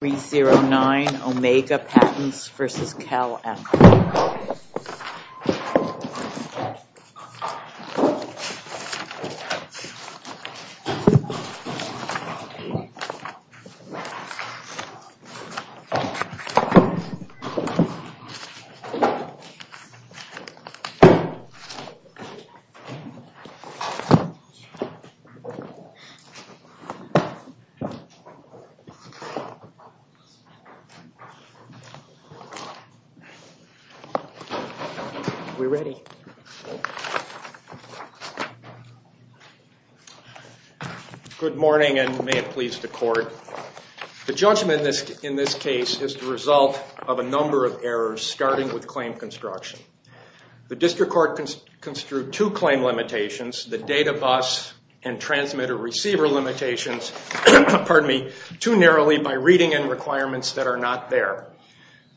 309 Omega Patents v. CalAmp Corp. The judgment in this case is the result of a number of errors, starting with claim construction. The District Court construed two claim limitations, the data bus and transmitter receiver limitations too narrowly by reading in requirements that are not there.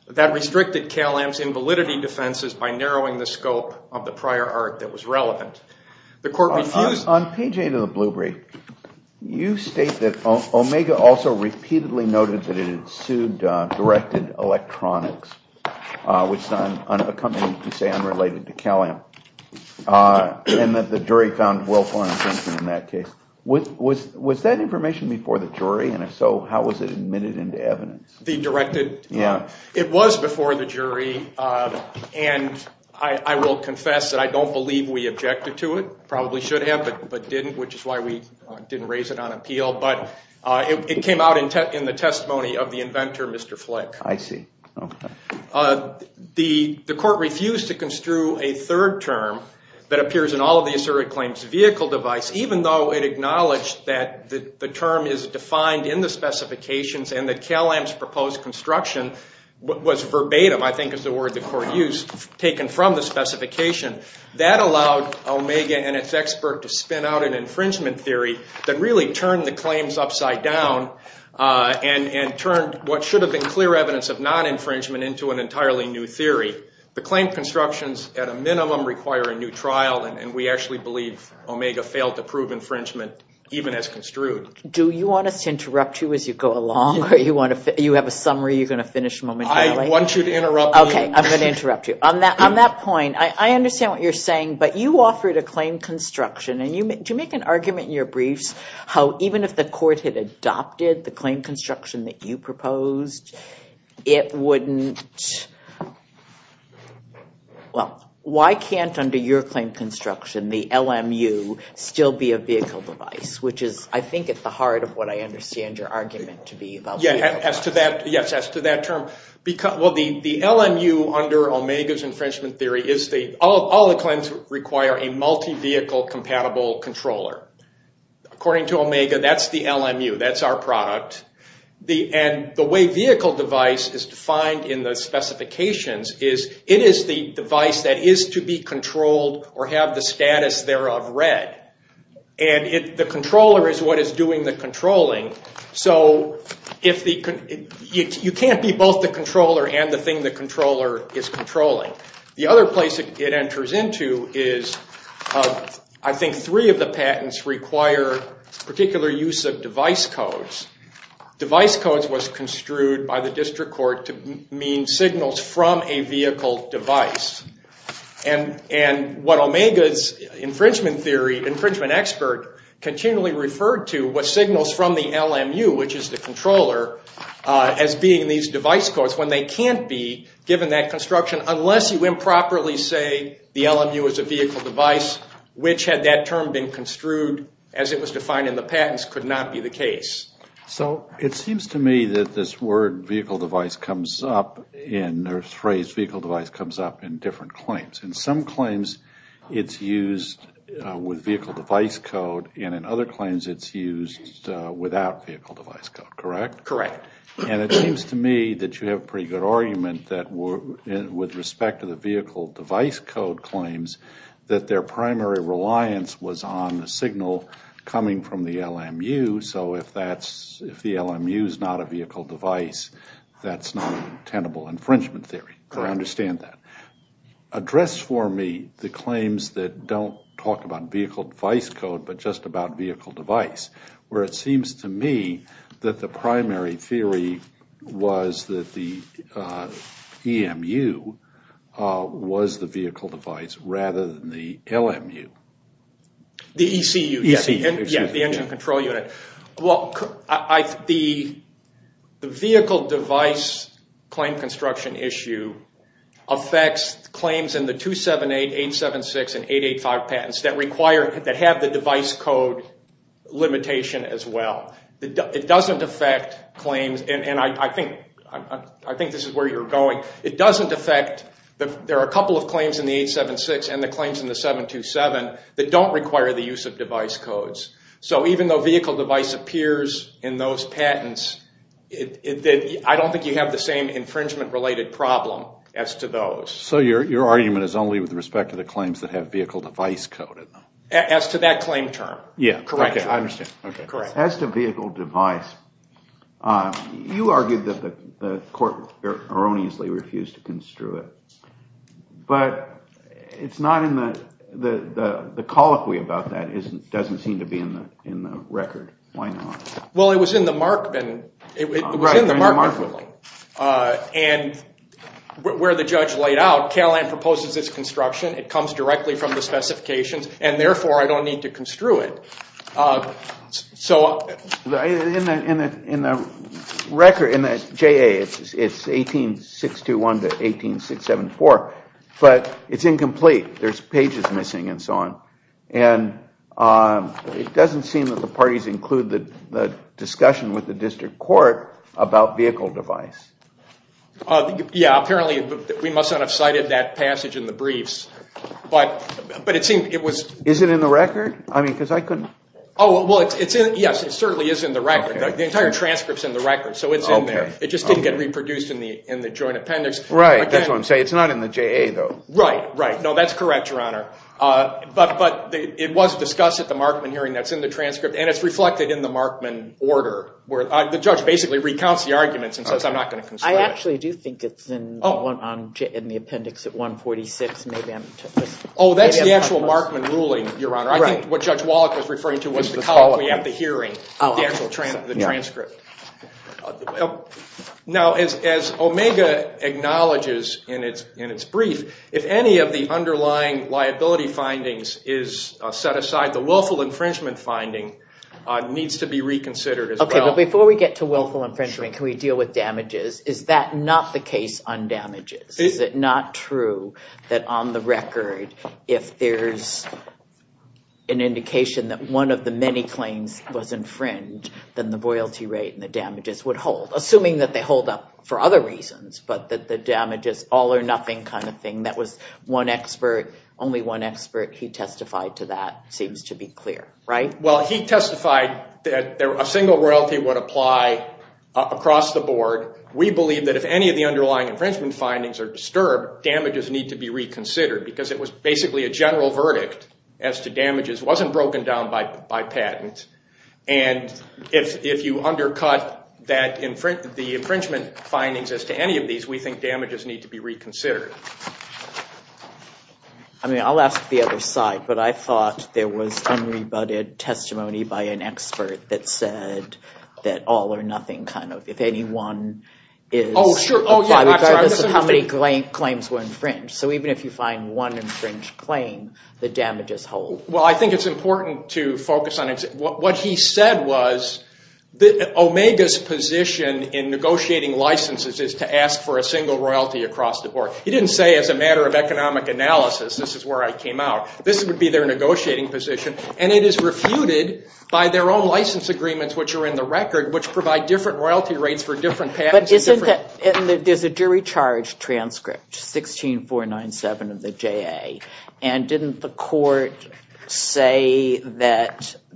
That restricted CalAmp's invalidity defenses by narrowing the scope of the prior art that was relevant. On page 8 of the Blue Brief, you state that Omega also repeatedly noted that it had sued Directed Electronics, a company you say unrelated to CalAmp. Was that information before the jury? And if so, how was it admitted into evidence? It was before the jury, and I will confess that I don't believe we objected to it. Probably should have, but didn't, which is why we didn't raise it on appeal. It came out in the testimony of the inventor, Mr. Flick. I see. The court refused to construe a third term that appears in all of the asserted claims vehicle device, even though it acknowledged that the term is defined in the specifications and that CalAmp's proposed construction was verbatim, I think is the word the court used, taken from the specification. That allowed Omega and its expert to spin out an infringement theory that really turned the claims upside down and turned what should have been clear evidence of non-infringement into an entirely new theory. The claim constructions at a minimum require a new trial, and we actually believe Omega failed to prove infringement even as construed. Do you want us to interrupt you as you go along? You have a summary you're going to finish momentarily? I want you to interrupt me. OK, I'm going to interrupt you. On that point, I understand what you're saying, but you offered a claim construction. Do you make an argument in your briefs how even if the court had adopted the claim construction that you proposed, it wouldn't? Well, why can't under your claim construction the LMU still be a vehicle device, which is, I think, at the heart of what I understand your argument to be about. Yes, as to that term, the LMU under Omega's infringement theory, all the claims require a multi-vehicle compatible controller. According to Omega, that's the LMU. That's our product. The way vehicle device is defined in the specifications is it is the device that is to be controlled or have the status thereof read. The controller is what is doing the controlling. So you can't be both the controller and the thing the controller is controlling. The other place it enters into is I think three of the patents require particular use of device codes. Device codes was construed by the district court to mean signals from a vehicle device. And what Omega's infringement theory, infringement expert, continually referred to was signals from the LMU, which is the controller, as being these device codes. When they can't be, given that construction, unless you improperly say the LMU is a vehicle device, which had that term been construed as it was defined in the patents, could not be the case. So it seems to me that this word vehicle device comes up in different claims. In some claims it's used with vehicle device code and in other claims it's used without vehicle device code, correct? Correct. And it seems to me that you have a pretty good argument that with respect to the vehicle device code claims, that their primary reliance was on the signal coming from the LMU. So if the LMU is not a vehicle device, that's not tenable infringement theory. I understand that. Address for me the claims that don't talk about vehicle device code but just about vehicle device, where it seems to me that the primary theory was that the EMU was the vehicle device rather than the LMU. The ECU, the engine control unit. The vehicle device claim construction issue affects claims in the 278, 876, and 885 patents that have the device code limitation as well. It doesn't affect claims, and I think this is where you're going. It doesn't affect, there are a couple of claims in the 876 and the claims in the 727 that don't require the use of device codes. So even though vehicle device appears in those patents, I don't think you have the same infringement related problem as to those. So your argument is only with respect to the claims that have vehicle device code in them? As to that claim term. Correct. I understand. As to vehicle device, you argued that the court erroneously refused to construe it, but it's not in the, the colloquy about that doesn't seem to be in the record. Why not? Well, it was in the Markman, it was in the Markman ruling. And where the judge laid out, Cal-Am proposes its construction, it comes directly from the specifications, and therefore I don't need to construe it. So in the record, in the JA, it's 18621 to 18674, but it's incomplete. There's pages missing and so on. And it doesn't seem that the parties include the discussion with the district court about vehicle device. Yeah, apparently we must not have cited that passage in the briefs, but it seemed it was. Is it in the record? I mean, because I couldn't. Oh, well, it's in, yes, it certainly is in the record. The entire transcript's in the record, so it's in there. It just didn't get reproduced in the joint appendix. Right. I just want to say it's not in the JA, though. Right, right. No, that's correct, Your Honor. But it was discussed at the Markman hearing that's in the transcript, and it's reflected in the Markman order. The judge basically recounts the arguments and says I'm not going to construe it. I actually do think it's in the appendix at 146. Oh, that's the actual Markman ruling, Your Honor. I think what Judge Wallach was referring to was the hearing, the actual transcript. Now, as Omega acknowledges in its brief, if any of the underlying liability findings is set aside, the willful infringement finding needs to be reconsidered as well. Okay, but before we get to willful infringement, can we deal with damages? Is that not the case on damages? Is it not true that on the record, if there's an indication that one of the many claims was infringed, then the royalty rate and the damages would hold, assuming that they hold up for other reasons, but that the damage is all or nothing kind of thing? That was one expert, only one expert. He testified to that. It seems to be clear, right? Well, he testified that a single royalty would apply across the board. We believe that if any of the underlying infringement findings are disturbed, damages need to be reconsidered because it was basically a general verdict as to damages. It wasn't broken down by patent, and if you undercut the infringement findings as to any of these, we think damages need to be reconsidered. I mean, I'll ask the other side, but I thought there was unrebutted testimony by an expert that said all or nothing kind of, if any one is, regardless of how many claims were infringed. So even if you find one infringed claim, the damages hold. Well, I think it's important to focus on it. What he said was Omega's position in negotiating licenses is to ask for a single royalty across the board. He didn't say as a matter of economic analysis this is where I came out. This would be their negotiating position, and it is refuted by their own license agreements, which are in the record, which provide different royalty rates for different patents. There's a jury charge transcript, 16497 of the JA, and didn't the court say that all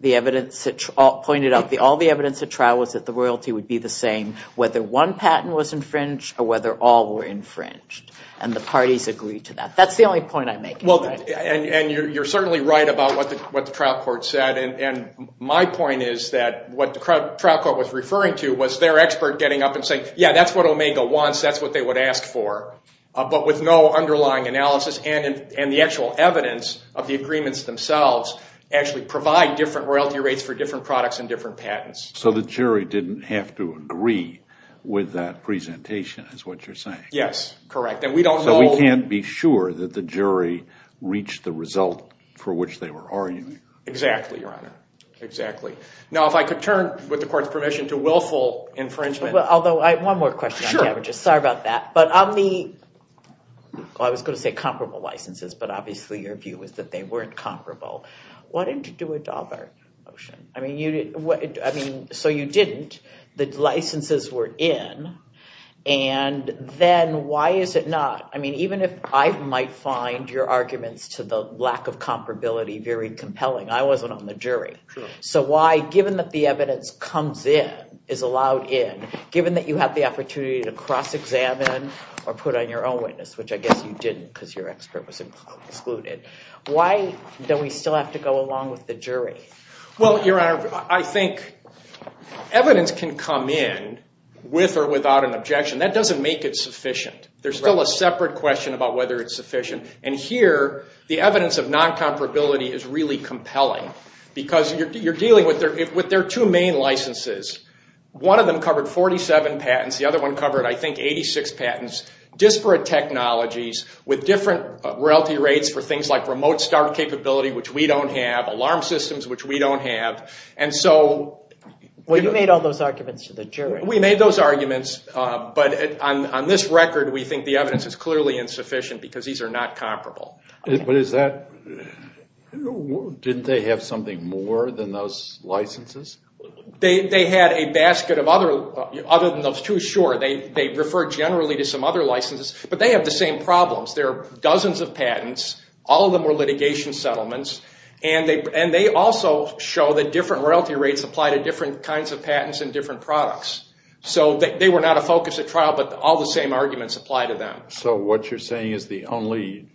the evidence at trial was that the royalty would be the same whether one patent was infringed or whether all were infringed, and the parties agreed to that. That's the only point I'm making. Well, and you're certainly right about what the trial court said, and my point is that what the trial court was referring to was their expert getting up and saying, yeah, that's what Omega wants, that's what they would ask for, but with no underlying analysis and the actual evidence of the agreements themselves actually provide different royalty rates for different products and different patents. So the jury didn't have to agree with that presentation is what you're saying. Yes, correct. So we can't be sure that the jury reached the result for which they were arguing. Exactly, Your Honor, exactly. Now, if I could turn, with the court's permission, to willful infringement. Well, although I have one more question. Sure. Sorry about that. But on the, well, I was going to say comparable licenses, but obviously your view was that they weren't comparable. Why didn't you do a Daubert motion? I mean, so you didn't. The licenses were in, and then why is it not? I mean, even if I might find your arguments to the lack of comparability very compelling, I wasn't on the jury. So why, given that the evidence comes in, is allowed in, given that you have the opportunity to cross-examine or put on your own witness, which I guess you didn't because your expert was excluded, why do we still have to go along with the jury? Well, Your Honor, I think evidence can come in with or without an objection. That doesn't make it sufficient. There's still a separate question about whether it's sufficient. And here, the evidence of non-comparability is really compelling because you're dealing with their two main licenses. One of them covered 47 patents. The other one covered, I think, 86 patents, disparate technologies with different royalty rates for things like remote start capability, which we don't have, alarm systems, which we don't have. Well, you made all those arguments to the jury. We made those arguments, but on this record, we think the evidence is clearly insufficient because these are not comparable. Didn't they have something more than those licenses? They had a basket of other than those two, sure. They refer generally to some other licenses, but they have the same problems. There are dozens of patents. All of them were litigation settlements, and they also show that different royalty rates apply to different kinds of patents and different products. So they were not a focus of trial, but all the same arguments apply to them. So what you're saying is the only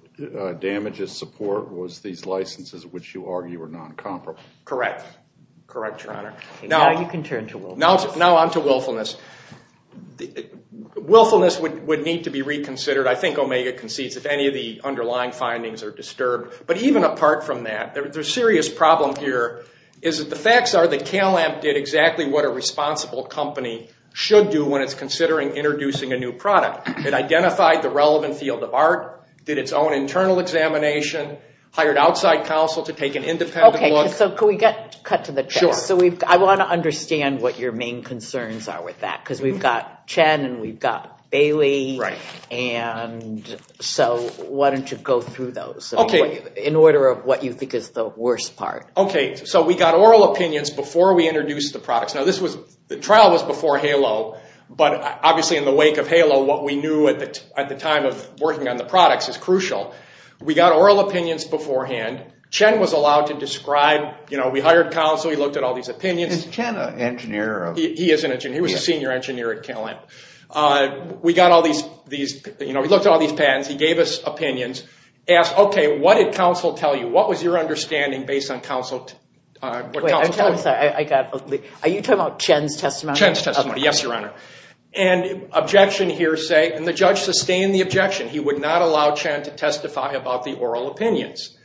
damages support was these licenses, which you argue were non-comparable. Correct. Correct, Your Honor. Now you can turn to willfulness. Now on to willfulness. Willfulness would need to be reconsidered. I think Omega concedes if any of the underlying findings are disturbed. But even apart from that, the serious problem here is that the facts are that CalAMP did exactly what a responsible company should do when it's considering introducing a new product. It identified the relevant field of art, did its own internal examination, hired outside counsel to take an independent look. Okay, so can we cut to the chase? Sure. I want to understand what your main concerns are with that because we've got so why don't you go through those in order of what you think is the worst part. Okay, so we got oral opinions before we introduced the products. Now the trial was before HALO, but obviously in the wake of HALO, what we knew at the time of working on the products is crucial. We got oral opinions beforehand. Chen was allowed to describe. We hired counsel. He looked at all these opinions. Is Chen an engineer? He is an engineer. He was a senior engineer at CalAMP. We got all these, you know, we looked at all these patents. He gave us opinions. Asked, okay, what did counsel tell you? What was your understanding based on counsel? Wait, I'm sorry. Are you talking about Chen's testimony? Chen's testimony. Yes, Your Honor. And objection hearsay, and the judge sustained the objection. He would not allow Chen to testify about the oral opinions.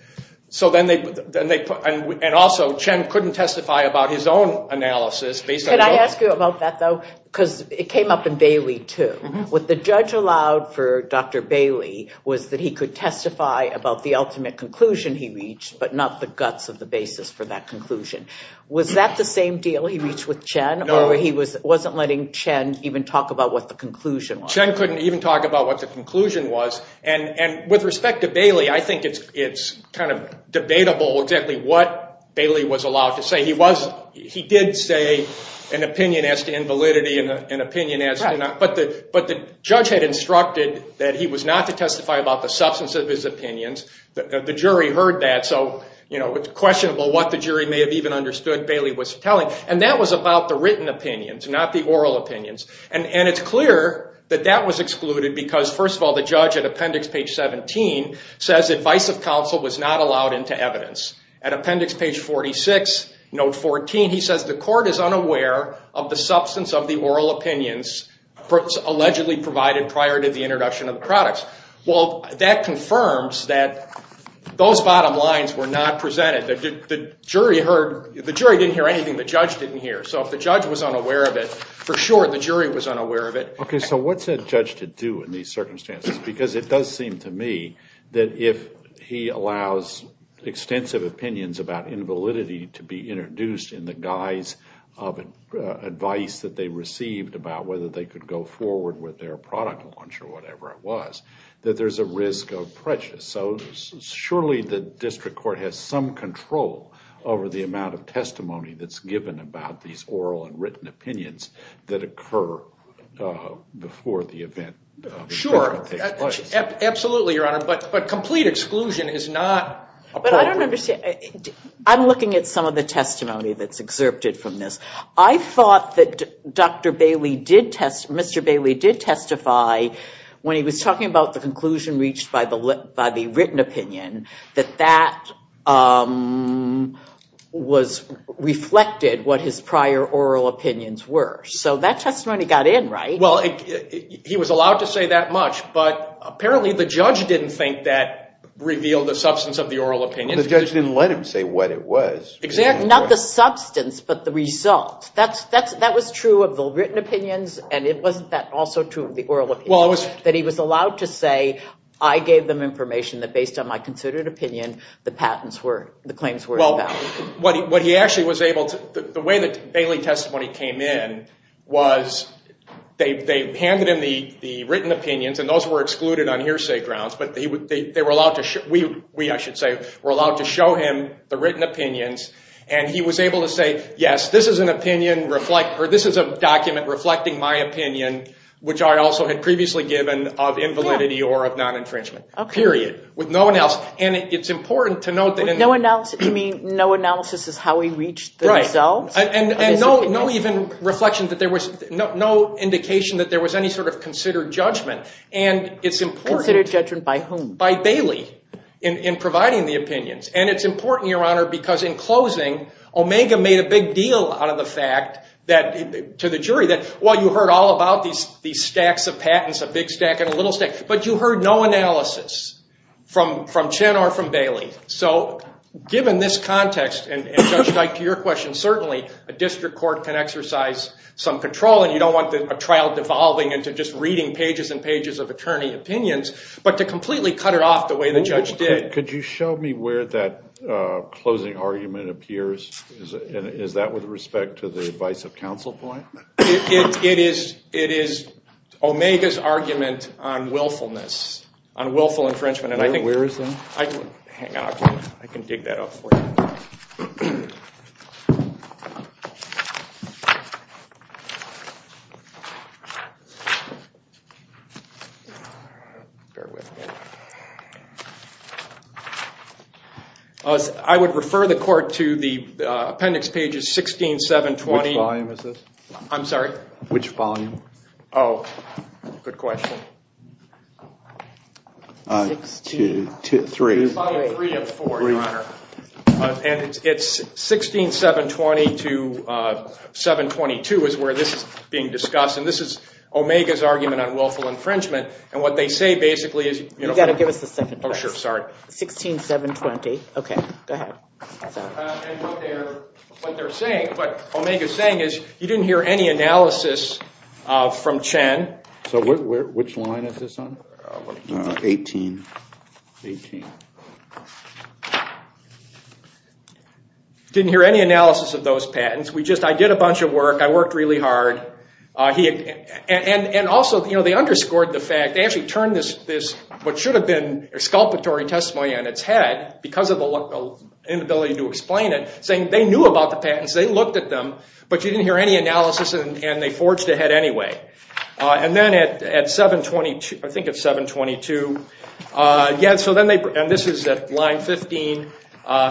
So then they put, and also Chen couldn't testify about his own analysis. Can I ask you about that, though? Because it came up in Bailey, too. What the judge allowed for Dr. Bailey was that he could testify about the ultimate conclusion he reached, but not the guts of the basis for that conclusion. Was that the same deal he reached with Chen, or he wasn't letting Chen even talk about what the conclusion was? Chen couldn't even talk about what the conclusion was. And with respect to Bailey, I think it's kind of debatable exactly what Bailey was allowed to say. He did say an opinion as to invalidity and an opinion as to not, but the judge had instructed that he was not to testify about the substance of his opinions. The jury heard that, so it's questionable what the jury may have even understood Bailey was telling. And that was about the written opinions, not the oral opinions. And it's clear that that was excluded because, first of all, the judge at appendix page 17 says advice of counsel was not allowed into evidence. At appendix page 46, note 14, he says, the court is unaware of the substance of the oral opinions allegedly provided prior to the introduction of the products. Well, that confirms that those bottom lines were not presented. The jury heard, the jury didn't hear anything the judge didn't hear. So if the judge was unaware of it, for sure the jury was unaware of it. Okay, so what's a judge to do in these circumstances? Because it does seem to me that if he allows extensive opinions about invalidity to be introduced in the guise of advice that they received about whether they could go forward with their product launch or whatever it was, that there's a risk of prejudice. So surely the district court has some control over the amount of testimony that's given about these oral and written opinions that occur before the event. Sure. Absolutely, Your Honor. But complete exclusion is not appropriate. But I don't understand. I'm looking at some of the testimony that's excerpted from this. I thought that Dr. Bailey did test, Mr. Bailey did testify when he was talking about the conclusion reached by the written opinion that that was reflected what his prior oral opinions were. So that testimony got in, right? Well, he was allowed to say that much, but apparently the judge didn't think that revealed the substance of the oral opinion. The judge didn't let him say what it was. Exactly. Not the substance, but the result. That was true of the written opinions, and wasn't that also true of the oral opinions? Well, it was. That he was allowed to say, I gave them information that based on my considered opinion, the claims were invalid. Well, what he actually was able to, the way that Bailey's testimony came in was they handed him the written opinions, and those were excluded on hearsay grounds, but we were allowed to show him the written opinions, and he was able to say, yes, this is a document reflecting my opinion, which I also had previously given of invalidity or of non-infringement. Period. With no analysis. And it's important to note that. You mean no analysis is how he reached the results? Right. And no even reflection that there was, no indication that there was any sort of considered judgment, and it's important. Considered judgment by whom? By Bailey in providing the opinions, and it's important, Your Honor, because in closing Omega made a big deal out of the fact to the jury that, well, you heard all about these stacks of patents, a big stack and a little stack, but you heard no analysis from Chen or from Bailey. So given this context, and Judge Teich, to your question, certainly a district court can exercise some control, and you don't want a trial devolving into just reading pages and pages of attorney opinions, but to completely cut it off the way the judge did. Could you show me where that closing argument appears? Is that with respect to the advice of counsel point? It is Omega's argument on willfulness, on willful infringement. Where is that? Hang on. I can dig that up for you. I would refer the court to the appendix pages 16, 7, 20. Which volume is this? I'm sorry? Which volume? Oh, good question. Volume 3 of 4, Your Honor. And it's 16, 7, 20 to 7, 22 is where this is being discussed. And this is Omega's argument on willful infringement. And what they say basically is, you know. You've got to give us the second part. Oh, sure. Sorry. 16, 7, 20. Okay. Go ahead. And what they're saying, what Omega's saying is you didn't hear any analysis from Chen. So which line is this on? 18. 18. Didn't hear any analysis of those patents. We just, I did a bunch of work. I worked really hard. And also, you know, they underscored the fact. They actually turned this, what should have been a sculptory testimony on its head, because of the inability to explain it, saying they knew about the patents. They looked at them. But you didn't hear any analysis, and they forged ahead anyway. And then at 722, I think it's 722. Yeah, so then they, and this is at line 15.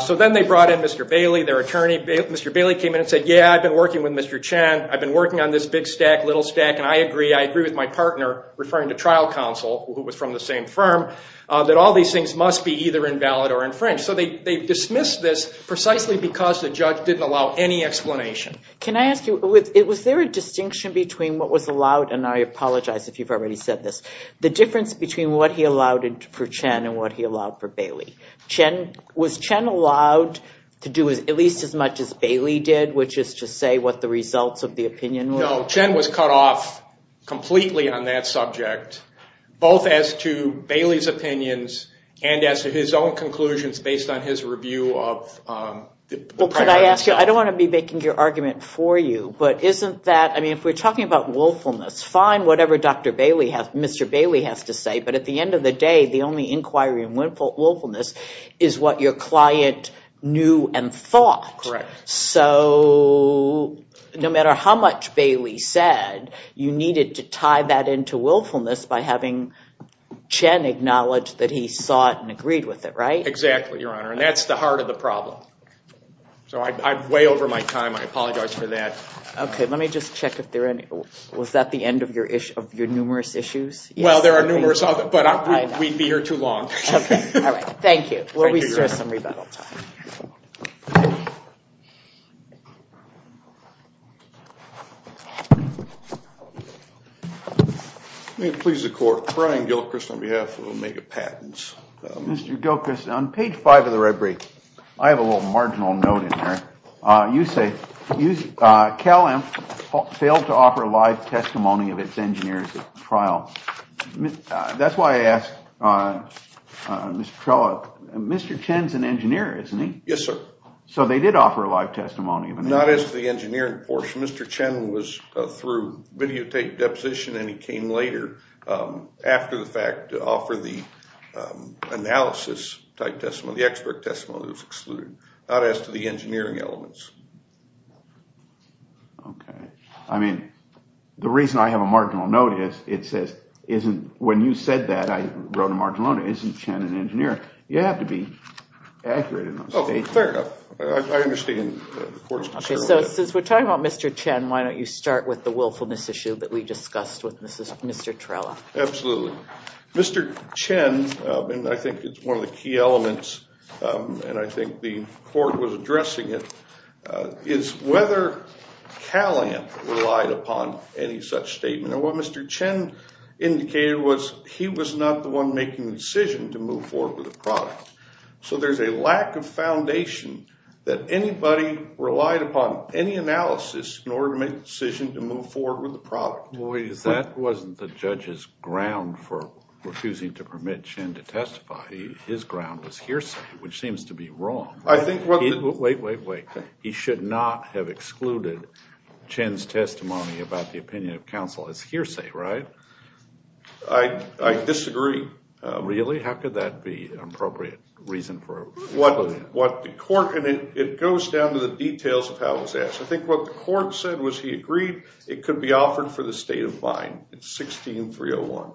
So then they brought in Mr. Bailey, their attorney. Mr. Bailey came in and said, yeah, I've been working with Mr. Chen. I've been working on this big stack, little stack. And I agree. I agree with my partner, referring to trial counsel, who was from the same firm, that all these things must be either invalid or infringed. So they dismissed this precisely because the judge didn't allow any explanation. Can I ask you, was there a distinction between what was allowed, and I apologize if you've already said this, the difference between what he allowed for Chen and what he allowed for Bailey? Was Chen allowed to do at least as much as Bailey did, which is to say what the results of the opinion were? No, Chen was cut off completely on that subject, both as to Bailey's opinions and as to his own conclusions based on his review of the prior. Let me ask you, I don't want to be making your argument for you, but isn't that, I mean, if we're talking about willfulness, fine, whatever Mr. Bailey has to say, but at the end of the day the only inquiry in willfulness is what your client knew and thought. So no matter how much Bailey said, you needed to tie that into willfulness by having Chen acknowledge that he saw it and agreed with it, right? Exactly, Your Honor, and that's the heart of the problem. So I'm way over my time, I apologize for that. Okay, let me just check if there are any, was that the end of your numerous issues? Well, there are numerous, but we'd be here too long. Okay, all right, thank you. We'll reserve some rebuttal time. May it please the Court, Brian Gilchrist on behalf of Omega Patents. Mr. Gilchrist, on page 5 of the red brief, I have a little marginal note in there. You say Cal-Am failed to offer a live testimony of its engineers at trial. That's why I asked Mr. Trella, Mr. Chen's an engineer, isn't he? Yes, sir. So they did offer a live testimony. Not as the engineering portion. Mr. Chen was through videotape deposition, and he came later after the fact to offer the analysis type testimony, so the expert testimony was excluded. Not as to the engineering elements. Okay. I mean, the reason I have a marginal note is it says, when you said that I wrote a marginal note, isn't Chen an engineer? You have to be accurate enough. Oh, fair enough. I understand the Court's concern. Okay, so since we're talking about Mr. Chen, why don't you start with the willfulness issue that we discussed with Mr. Trella. Absolutely. Mr. Chen, and I think it's one of the key elements, and I think the Court was addressing it, is whether Cal-Am relied upon any such statement. And what Mr. Chen indicated was he was not the one making the decision to move forward with the product. So there's a lack of foundation that anybody relied upon any analysis in order to make the decision to move forward with the product. That wasn't the judge's ground for refusing to permit Chen to testify. His ground was hearsay, which seems to be wrong. Wait, wait, wait. He should not have excluded Chen's testimony about the opinion of counsel. It's hearsay, right? I disagree. Really? How could that be an appropriate reason for excluding him? It goes down to the details of how it was asked. I think what the Court said was he agreed it could be offered for the state of mind in 16301.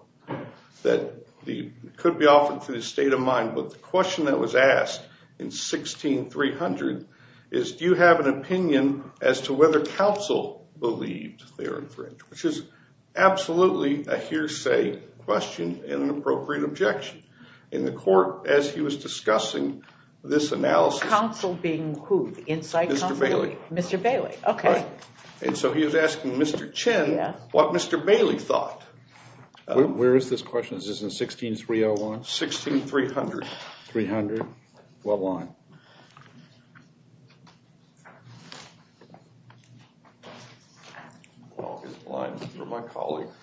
That it could be offered for the state of mind, but the question that was asked in 16300 is, do you have an opinion as to whether counsel believed Theron French, which is absolutely a hearsay question and an appropriate objection. In the Court, as he was discussing this analysis. Counsel being who? Inside counsel? Mr. Bailey. Mr. Bailey. Okay. And so he was asking Mr. Chen what Mr. Bailey thought. Where is this question? Is this in 16301? 16300. 300. What line? I don't know. I don't know. Okay.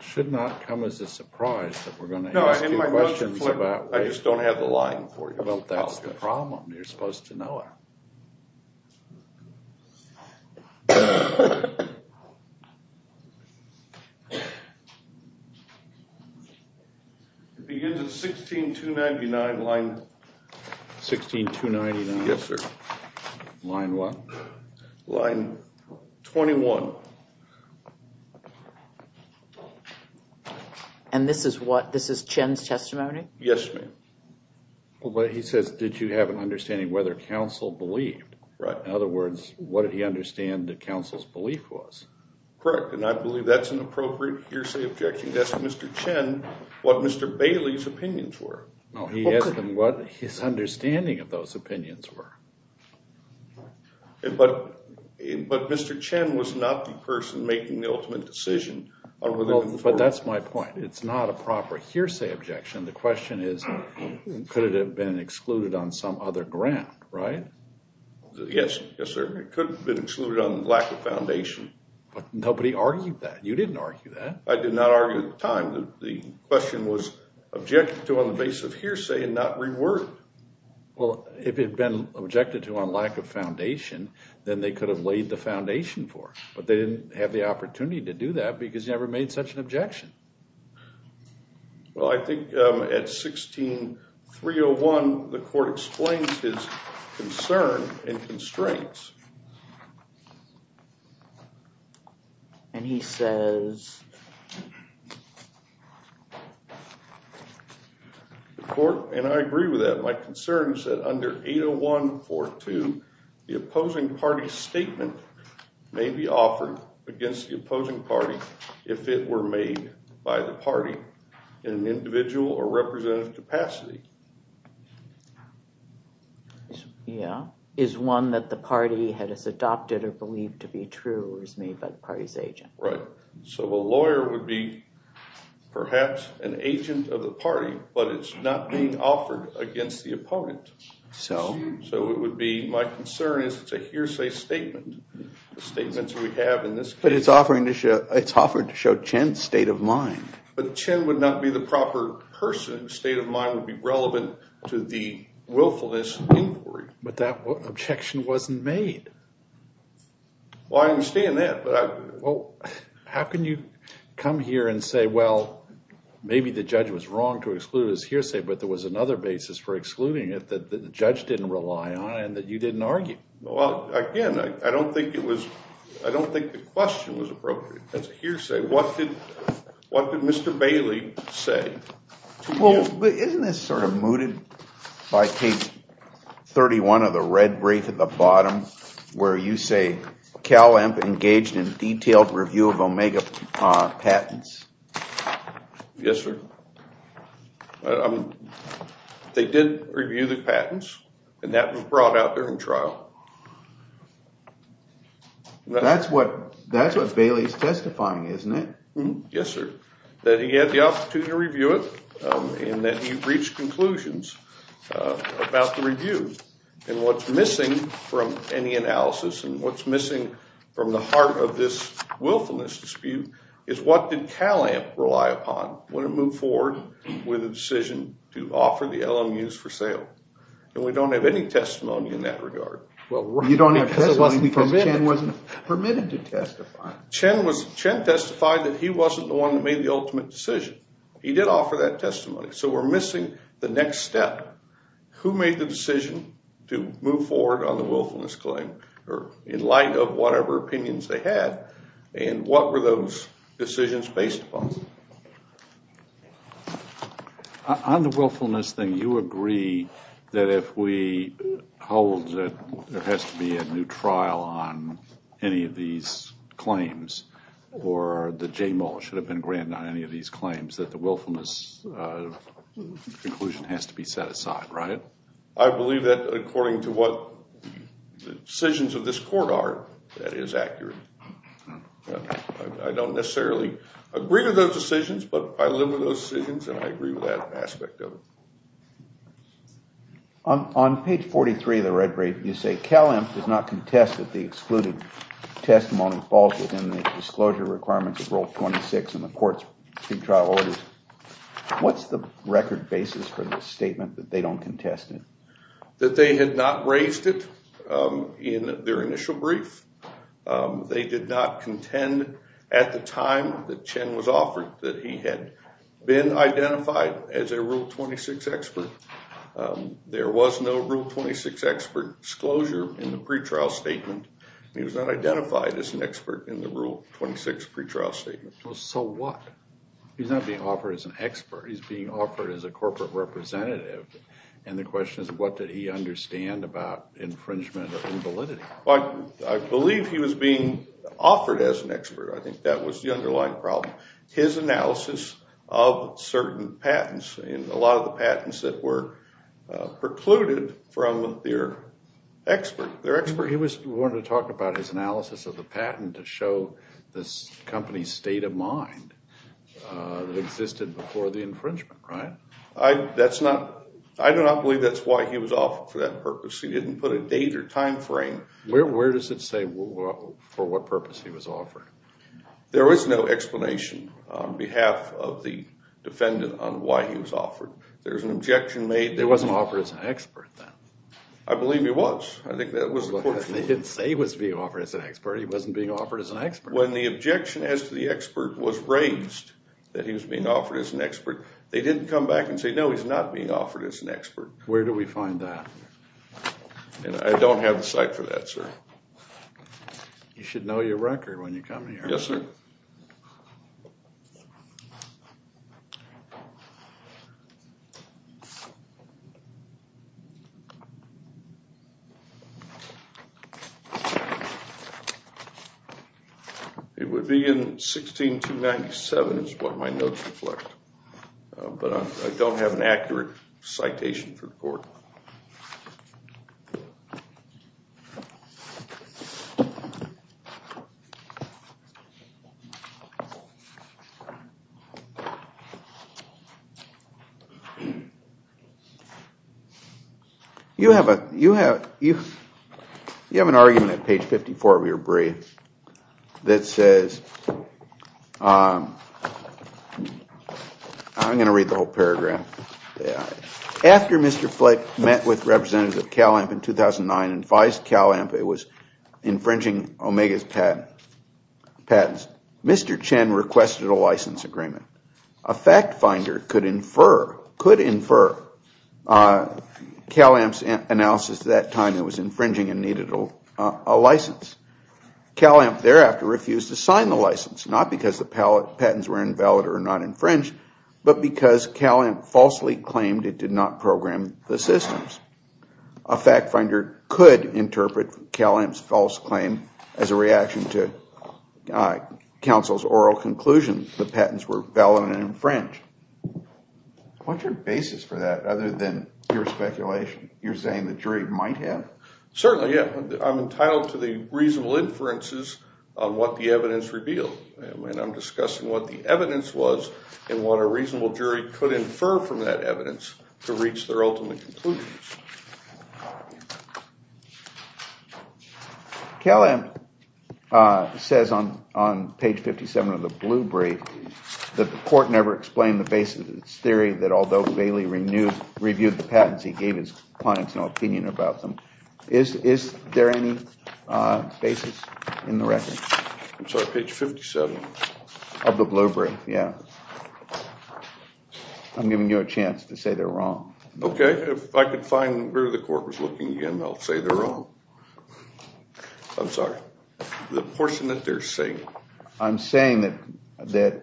Should not come as a surprise that we're going to. I just don't have the line for you. That's the problem. You're supposed to know it. Begin to 16299 line. 16299. Yes, sir. Line one. Line 21. And this is what this is Chen's testimony. Yes, ma'am. Well, but he says, did you have an understanding whether counsel believed? Right. In other words, what did he understand that counsel's belief was? Correct. And I believe that's an appropriate hearsay objection. That's Mr. Chen, what Mr. Bailey's opinions were. No, he asked him what his understanding of those opinions were. But Mr. Chen was not the person making the ultimate decision. But that's my point. It's not a proper hearsay objection. The question is, could it have been excluded on some other ground? Right? Yes. Yes, sir. It could have been excluded on lack of foundation. But nobody argued that. You didn't argue that. I did not argue at the time. The question was objected to on the basis of hearsay and not reword. Well, if it had been objected to on lack of foundation, then they could have laid the foundation for it. But they didn't have the opportunity to do that because you never made such an objection. Well, I think at 16301, the court explains his concern and constraints. And he says. And I agree with that. My concern is that under 80142, the opposing party's statement may be offered against the opposing party if it were made by the party in an individual or representative capacity. Yeah. Is one that the party had adopted or believed to be true was made by the party's agent. Right. So a lawyer would be perhaps an agent of the party, but it's not being offered against the opponent. So? So it would be my concern is it's a hearsay statement. The statements we have in this case. But it's offered to show Chen's state of mind. But Chen would not be the proper person. The state of mind would be relevant to the willfulness inquiry. But that objection wasn't made. Well, I understand that. Well, how can you come here and say, well, maybe the judge was wrong to exclude his hearsay. But there was another basis for excluding it that the judge didn't rely on and that you didn't argue. Well, again, I don't think it was I don't think the question was appropriate. That's hearsay. What did what did Mr. Bailey say? Well, isn't this sort of mooted by page 31 of the red brief at the bottom where you say Calamp engaged in detailed review of Omega patents? Yes, sir. They did review the patents and that was brought out during trial. That's what that's what Bailey's testifying, isn't it? Yes, sir. That he had the opportunity to review it and that he reached conclusions about the review. And what's missing from any analysis and what's missing from the heart of this willfulness dispute is what did Calamp rely upon when it moved forward with a decision to offer the LMUs for sale? And we don't have any testimony in that regard. You don't have testimony because Chen wasn't permitted to testify. Chen testified that he wasn't the one that made the ultimate decision. He did offer that testimony. So we're missing the next step. Who made the decision to move forward on the willfulness claim in light of whatever opinions they had? And what were those decisions based upon? On the willfulness thing, you agree that if we hold that there has to be a new trial on any of these claims or the JMO should have been granted on any of these claims that the willfulness conclusion has to be set aside, right? I believe that according to what the decisions of this court are, that is accurate. I don't necessarily agree with those decisions, but I live with those decisions and I agree with that aspect of it. On page 43 of the red brief, you say Calamp does not contest that the excluded testimony falls within the disclosure requirements of Rule 26 in the court's pre-trial orders. What's the record basis for the statement that they don't contest it? That they had not raised it in their initial brief. They did not contend at the time that Chen was offered that he had been identified as a Rule 26 expert. There was no Rule 26 expert disclosure in the pre-trial statement. He was not identified as an expert in the Rule 26 pre-trial statement. So what? He's not being offered as an expert. He's being offered as a corporate representative and the question is what did he understand about infringement and validity? I believe he was being offered as an expert. I think that was the underlying problem. His analysis of certain patents and a lot of the patents that were precluded from their expert. He wanted to talk about his analysis of the patent to show the company's state of mind that existed before the infringement, right? I do not believe that's why he was offered for that purpose. He didn't put a date or time frame. Where does it say for what purpose he was offered? There was no explanation on behalf of the defendant on why he was offered. There was an objection made. He wasn't offered as an expert then. I believe he was. I think that was the point. They didn't say he was being offered as an expert. He wasn't being offered as an expert. When the objection as to the expert was raised that he was being offered as an expert, they didn't come back and say no, he's not being offered as an expert. Where do we find that? I don't have the site for that, sir. You should know your record when you come here. Yes, sir. It would be in 16297 is what my notes reflect, but I don't have an accurate citation for the court. You have an argument at page 54 of your brief that says, I'm going to read the whole paragraph. After Mr. Flake met with Representative Calamp in 2009 and advised Calamp it was infringing Omega's patents, Mr. Chen requested a license agreement. A fact finder could infer Calamp's analysis at that time that it was infringing and needed a license. Calamp thereafter refused to sign the license, not because the patents were invalid or not infringed, but because Calamp falsely claimed it did not program the systems. A fact finder could interpret Calamp's false claim as a reaction to counsel's oral conclusion that the patents were invalid and infringed. What's your basis for that other than your speculation? You're saying the jury might have? Certainly, yes. I'm entitled to the reasonable inferences on what the evidence revealed. I'm discussing what the evidence was and what a reasonable jury could infer from that evidence to reach their ultimate conclusions. Calamp says on page 57 of the blue brief that the court never explained the basis of its theory that although Bailey reviewed the patents, he gave his clients no opinion about them. Is there any basis in the record? I'm sorry, page 57? Of the blue brief, yeah. I'm giving you a chance to say they're wrong. Okay, if I could find where the court was looking again, I'll say they're wrong. I'm sorry. The portion that they're saying. I'm saying that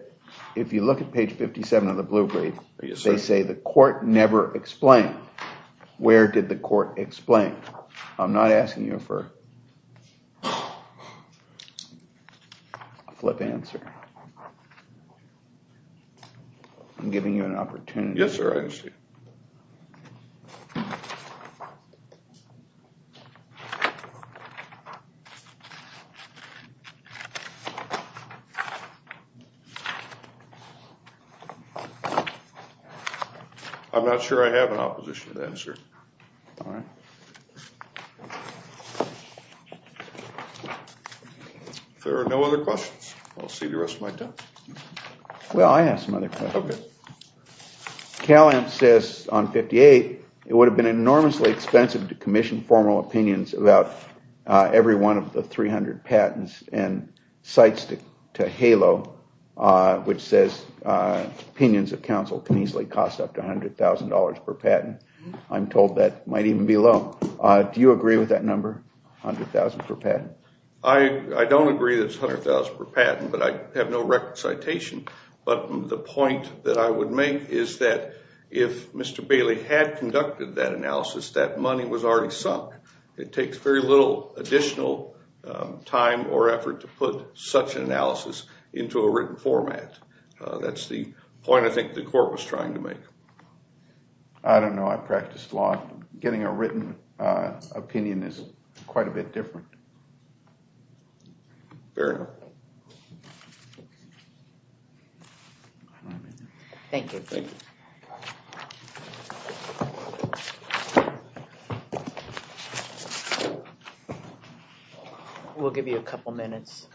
if you look at page 57 of the blue brief, they say the court never explained. Where did the court explain? I'm not asking you for a flip answer. I'm giving you an opportunity. Yes, sir, I understand. I'm not sure I have an opposition to that, sir. All right. If there are no other questions, I'll see the rest of my time. Well, I have some other questions. Okay. Calamp says on 58, it would have been enormously expensive to commission formal opinions about every one of the 300 patents and cites to HALO, which says opinions of counsel can easily cost up to $100,000 per patent. I'm told that might even be low. Do you agree with that number, $100,000 per patent? I don't agree that it's $100,000 per patent, but I have no record citation. But the point that I would make is that if Mr. Bailey had conducted that analysis, that money was already sunk. It takes very little additional time or effort to put such an analysis into a written format. That's the point I think the court was trying to make. I don't know. I practiced law. Getting a written opinion is quite a bit different. Fair enough. Thank you. We'll give you a couple minutes.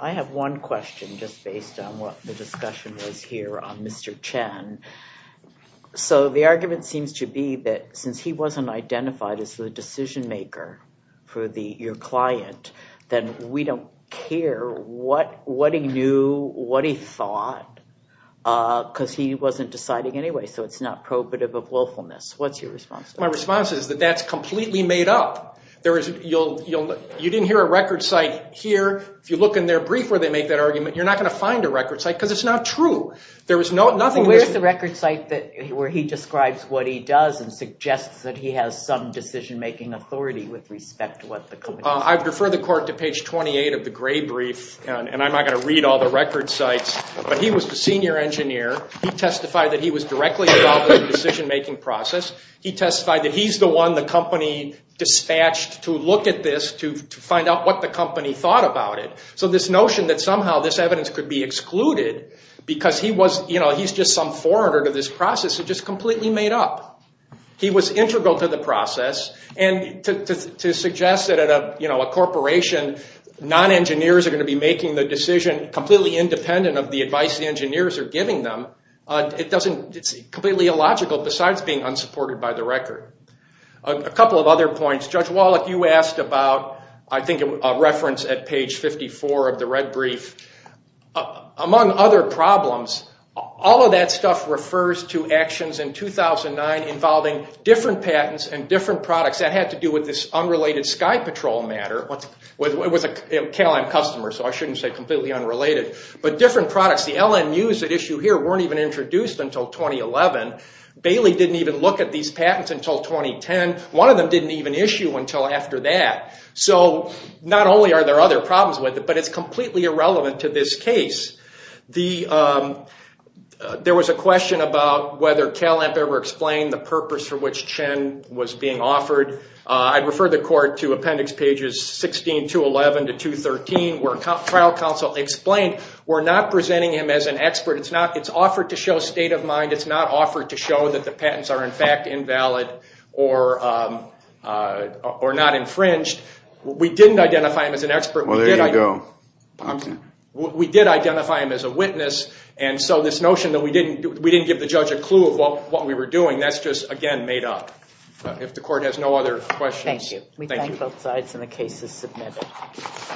I have one question just based on what the discussion was here on Mr. Chen. The argument seems to be that since he wasn't identified as the decision maker for your client, then we don't care what he knew, what he thought, because he wasn't deciding anyway. So it's not probative of willfulness. What's your response to that? My response is that that's completely made up. You didn't hear a record cite here. If you look in their brief where they make that argument, you're not going to find a record cite because it's not true. Where's the record cite where he describes what he does and suggests that he has some decision-making authority with respect to what the company does? I refer the court to page 28 of the gray brief, and I'm not going to read all the record cites, but he was the senior engineer. He testified that he was directly involved in the decision-making process. He testified that he's the one the company dispatched to look at this to find out what the company thought about it. So this notion that somehow this evidence could be excluded because he's just some foreigner to this process is just completely made up. He was integral to the process, and to suggest that at a corporation, non-engineers are going to be making the decision completely independent of the advice the engineers are giving them, it's completely illogical besides being unsupported by the record. A couple of other points. Judge Wallach, you asked about, I think, a reference at page 54 of the red brief. Among other problems, all of that stuff refers to actions in 2009 involving different patents and different products that had to do with this unrelated Sky Patrol matter. It was a Cal-Am customer, so I shouldn't say completely unrelated, but different products. The LNUs at issue here weren't even introduced until 2011. Bailey didn't even look at these patents until 2010. One of them didn't even issue until after that. So not only are there other problems with it, but it's completely irrelevant to this case. There was a question about whether Cal-Am ever explained the purpose for which Chen was being offered. I'd refer the court to appendix pages 16 to 11 to 213 where trial counsel explained we're not presenting him as an expert. It's offered to show state of mind. It's not offered to show that the patents are in fact invalid or not infringed. We didn't identify him as an expert. Well, there you go. We did identify him as a witness, and so this notion that we didn't give the judge a clue of what we were doing, that's just, again, made up. If the court has no other questions. Thank you. We thank both sides, and the case is submitted.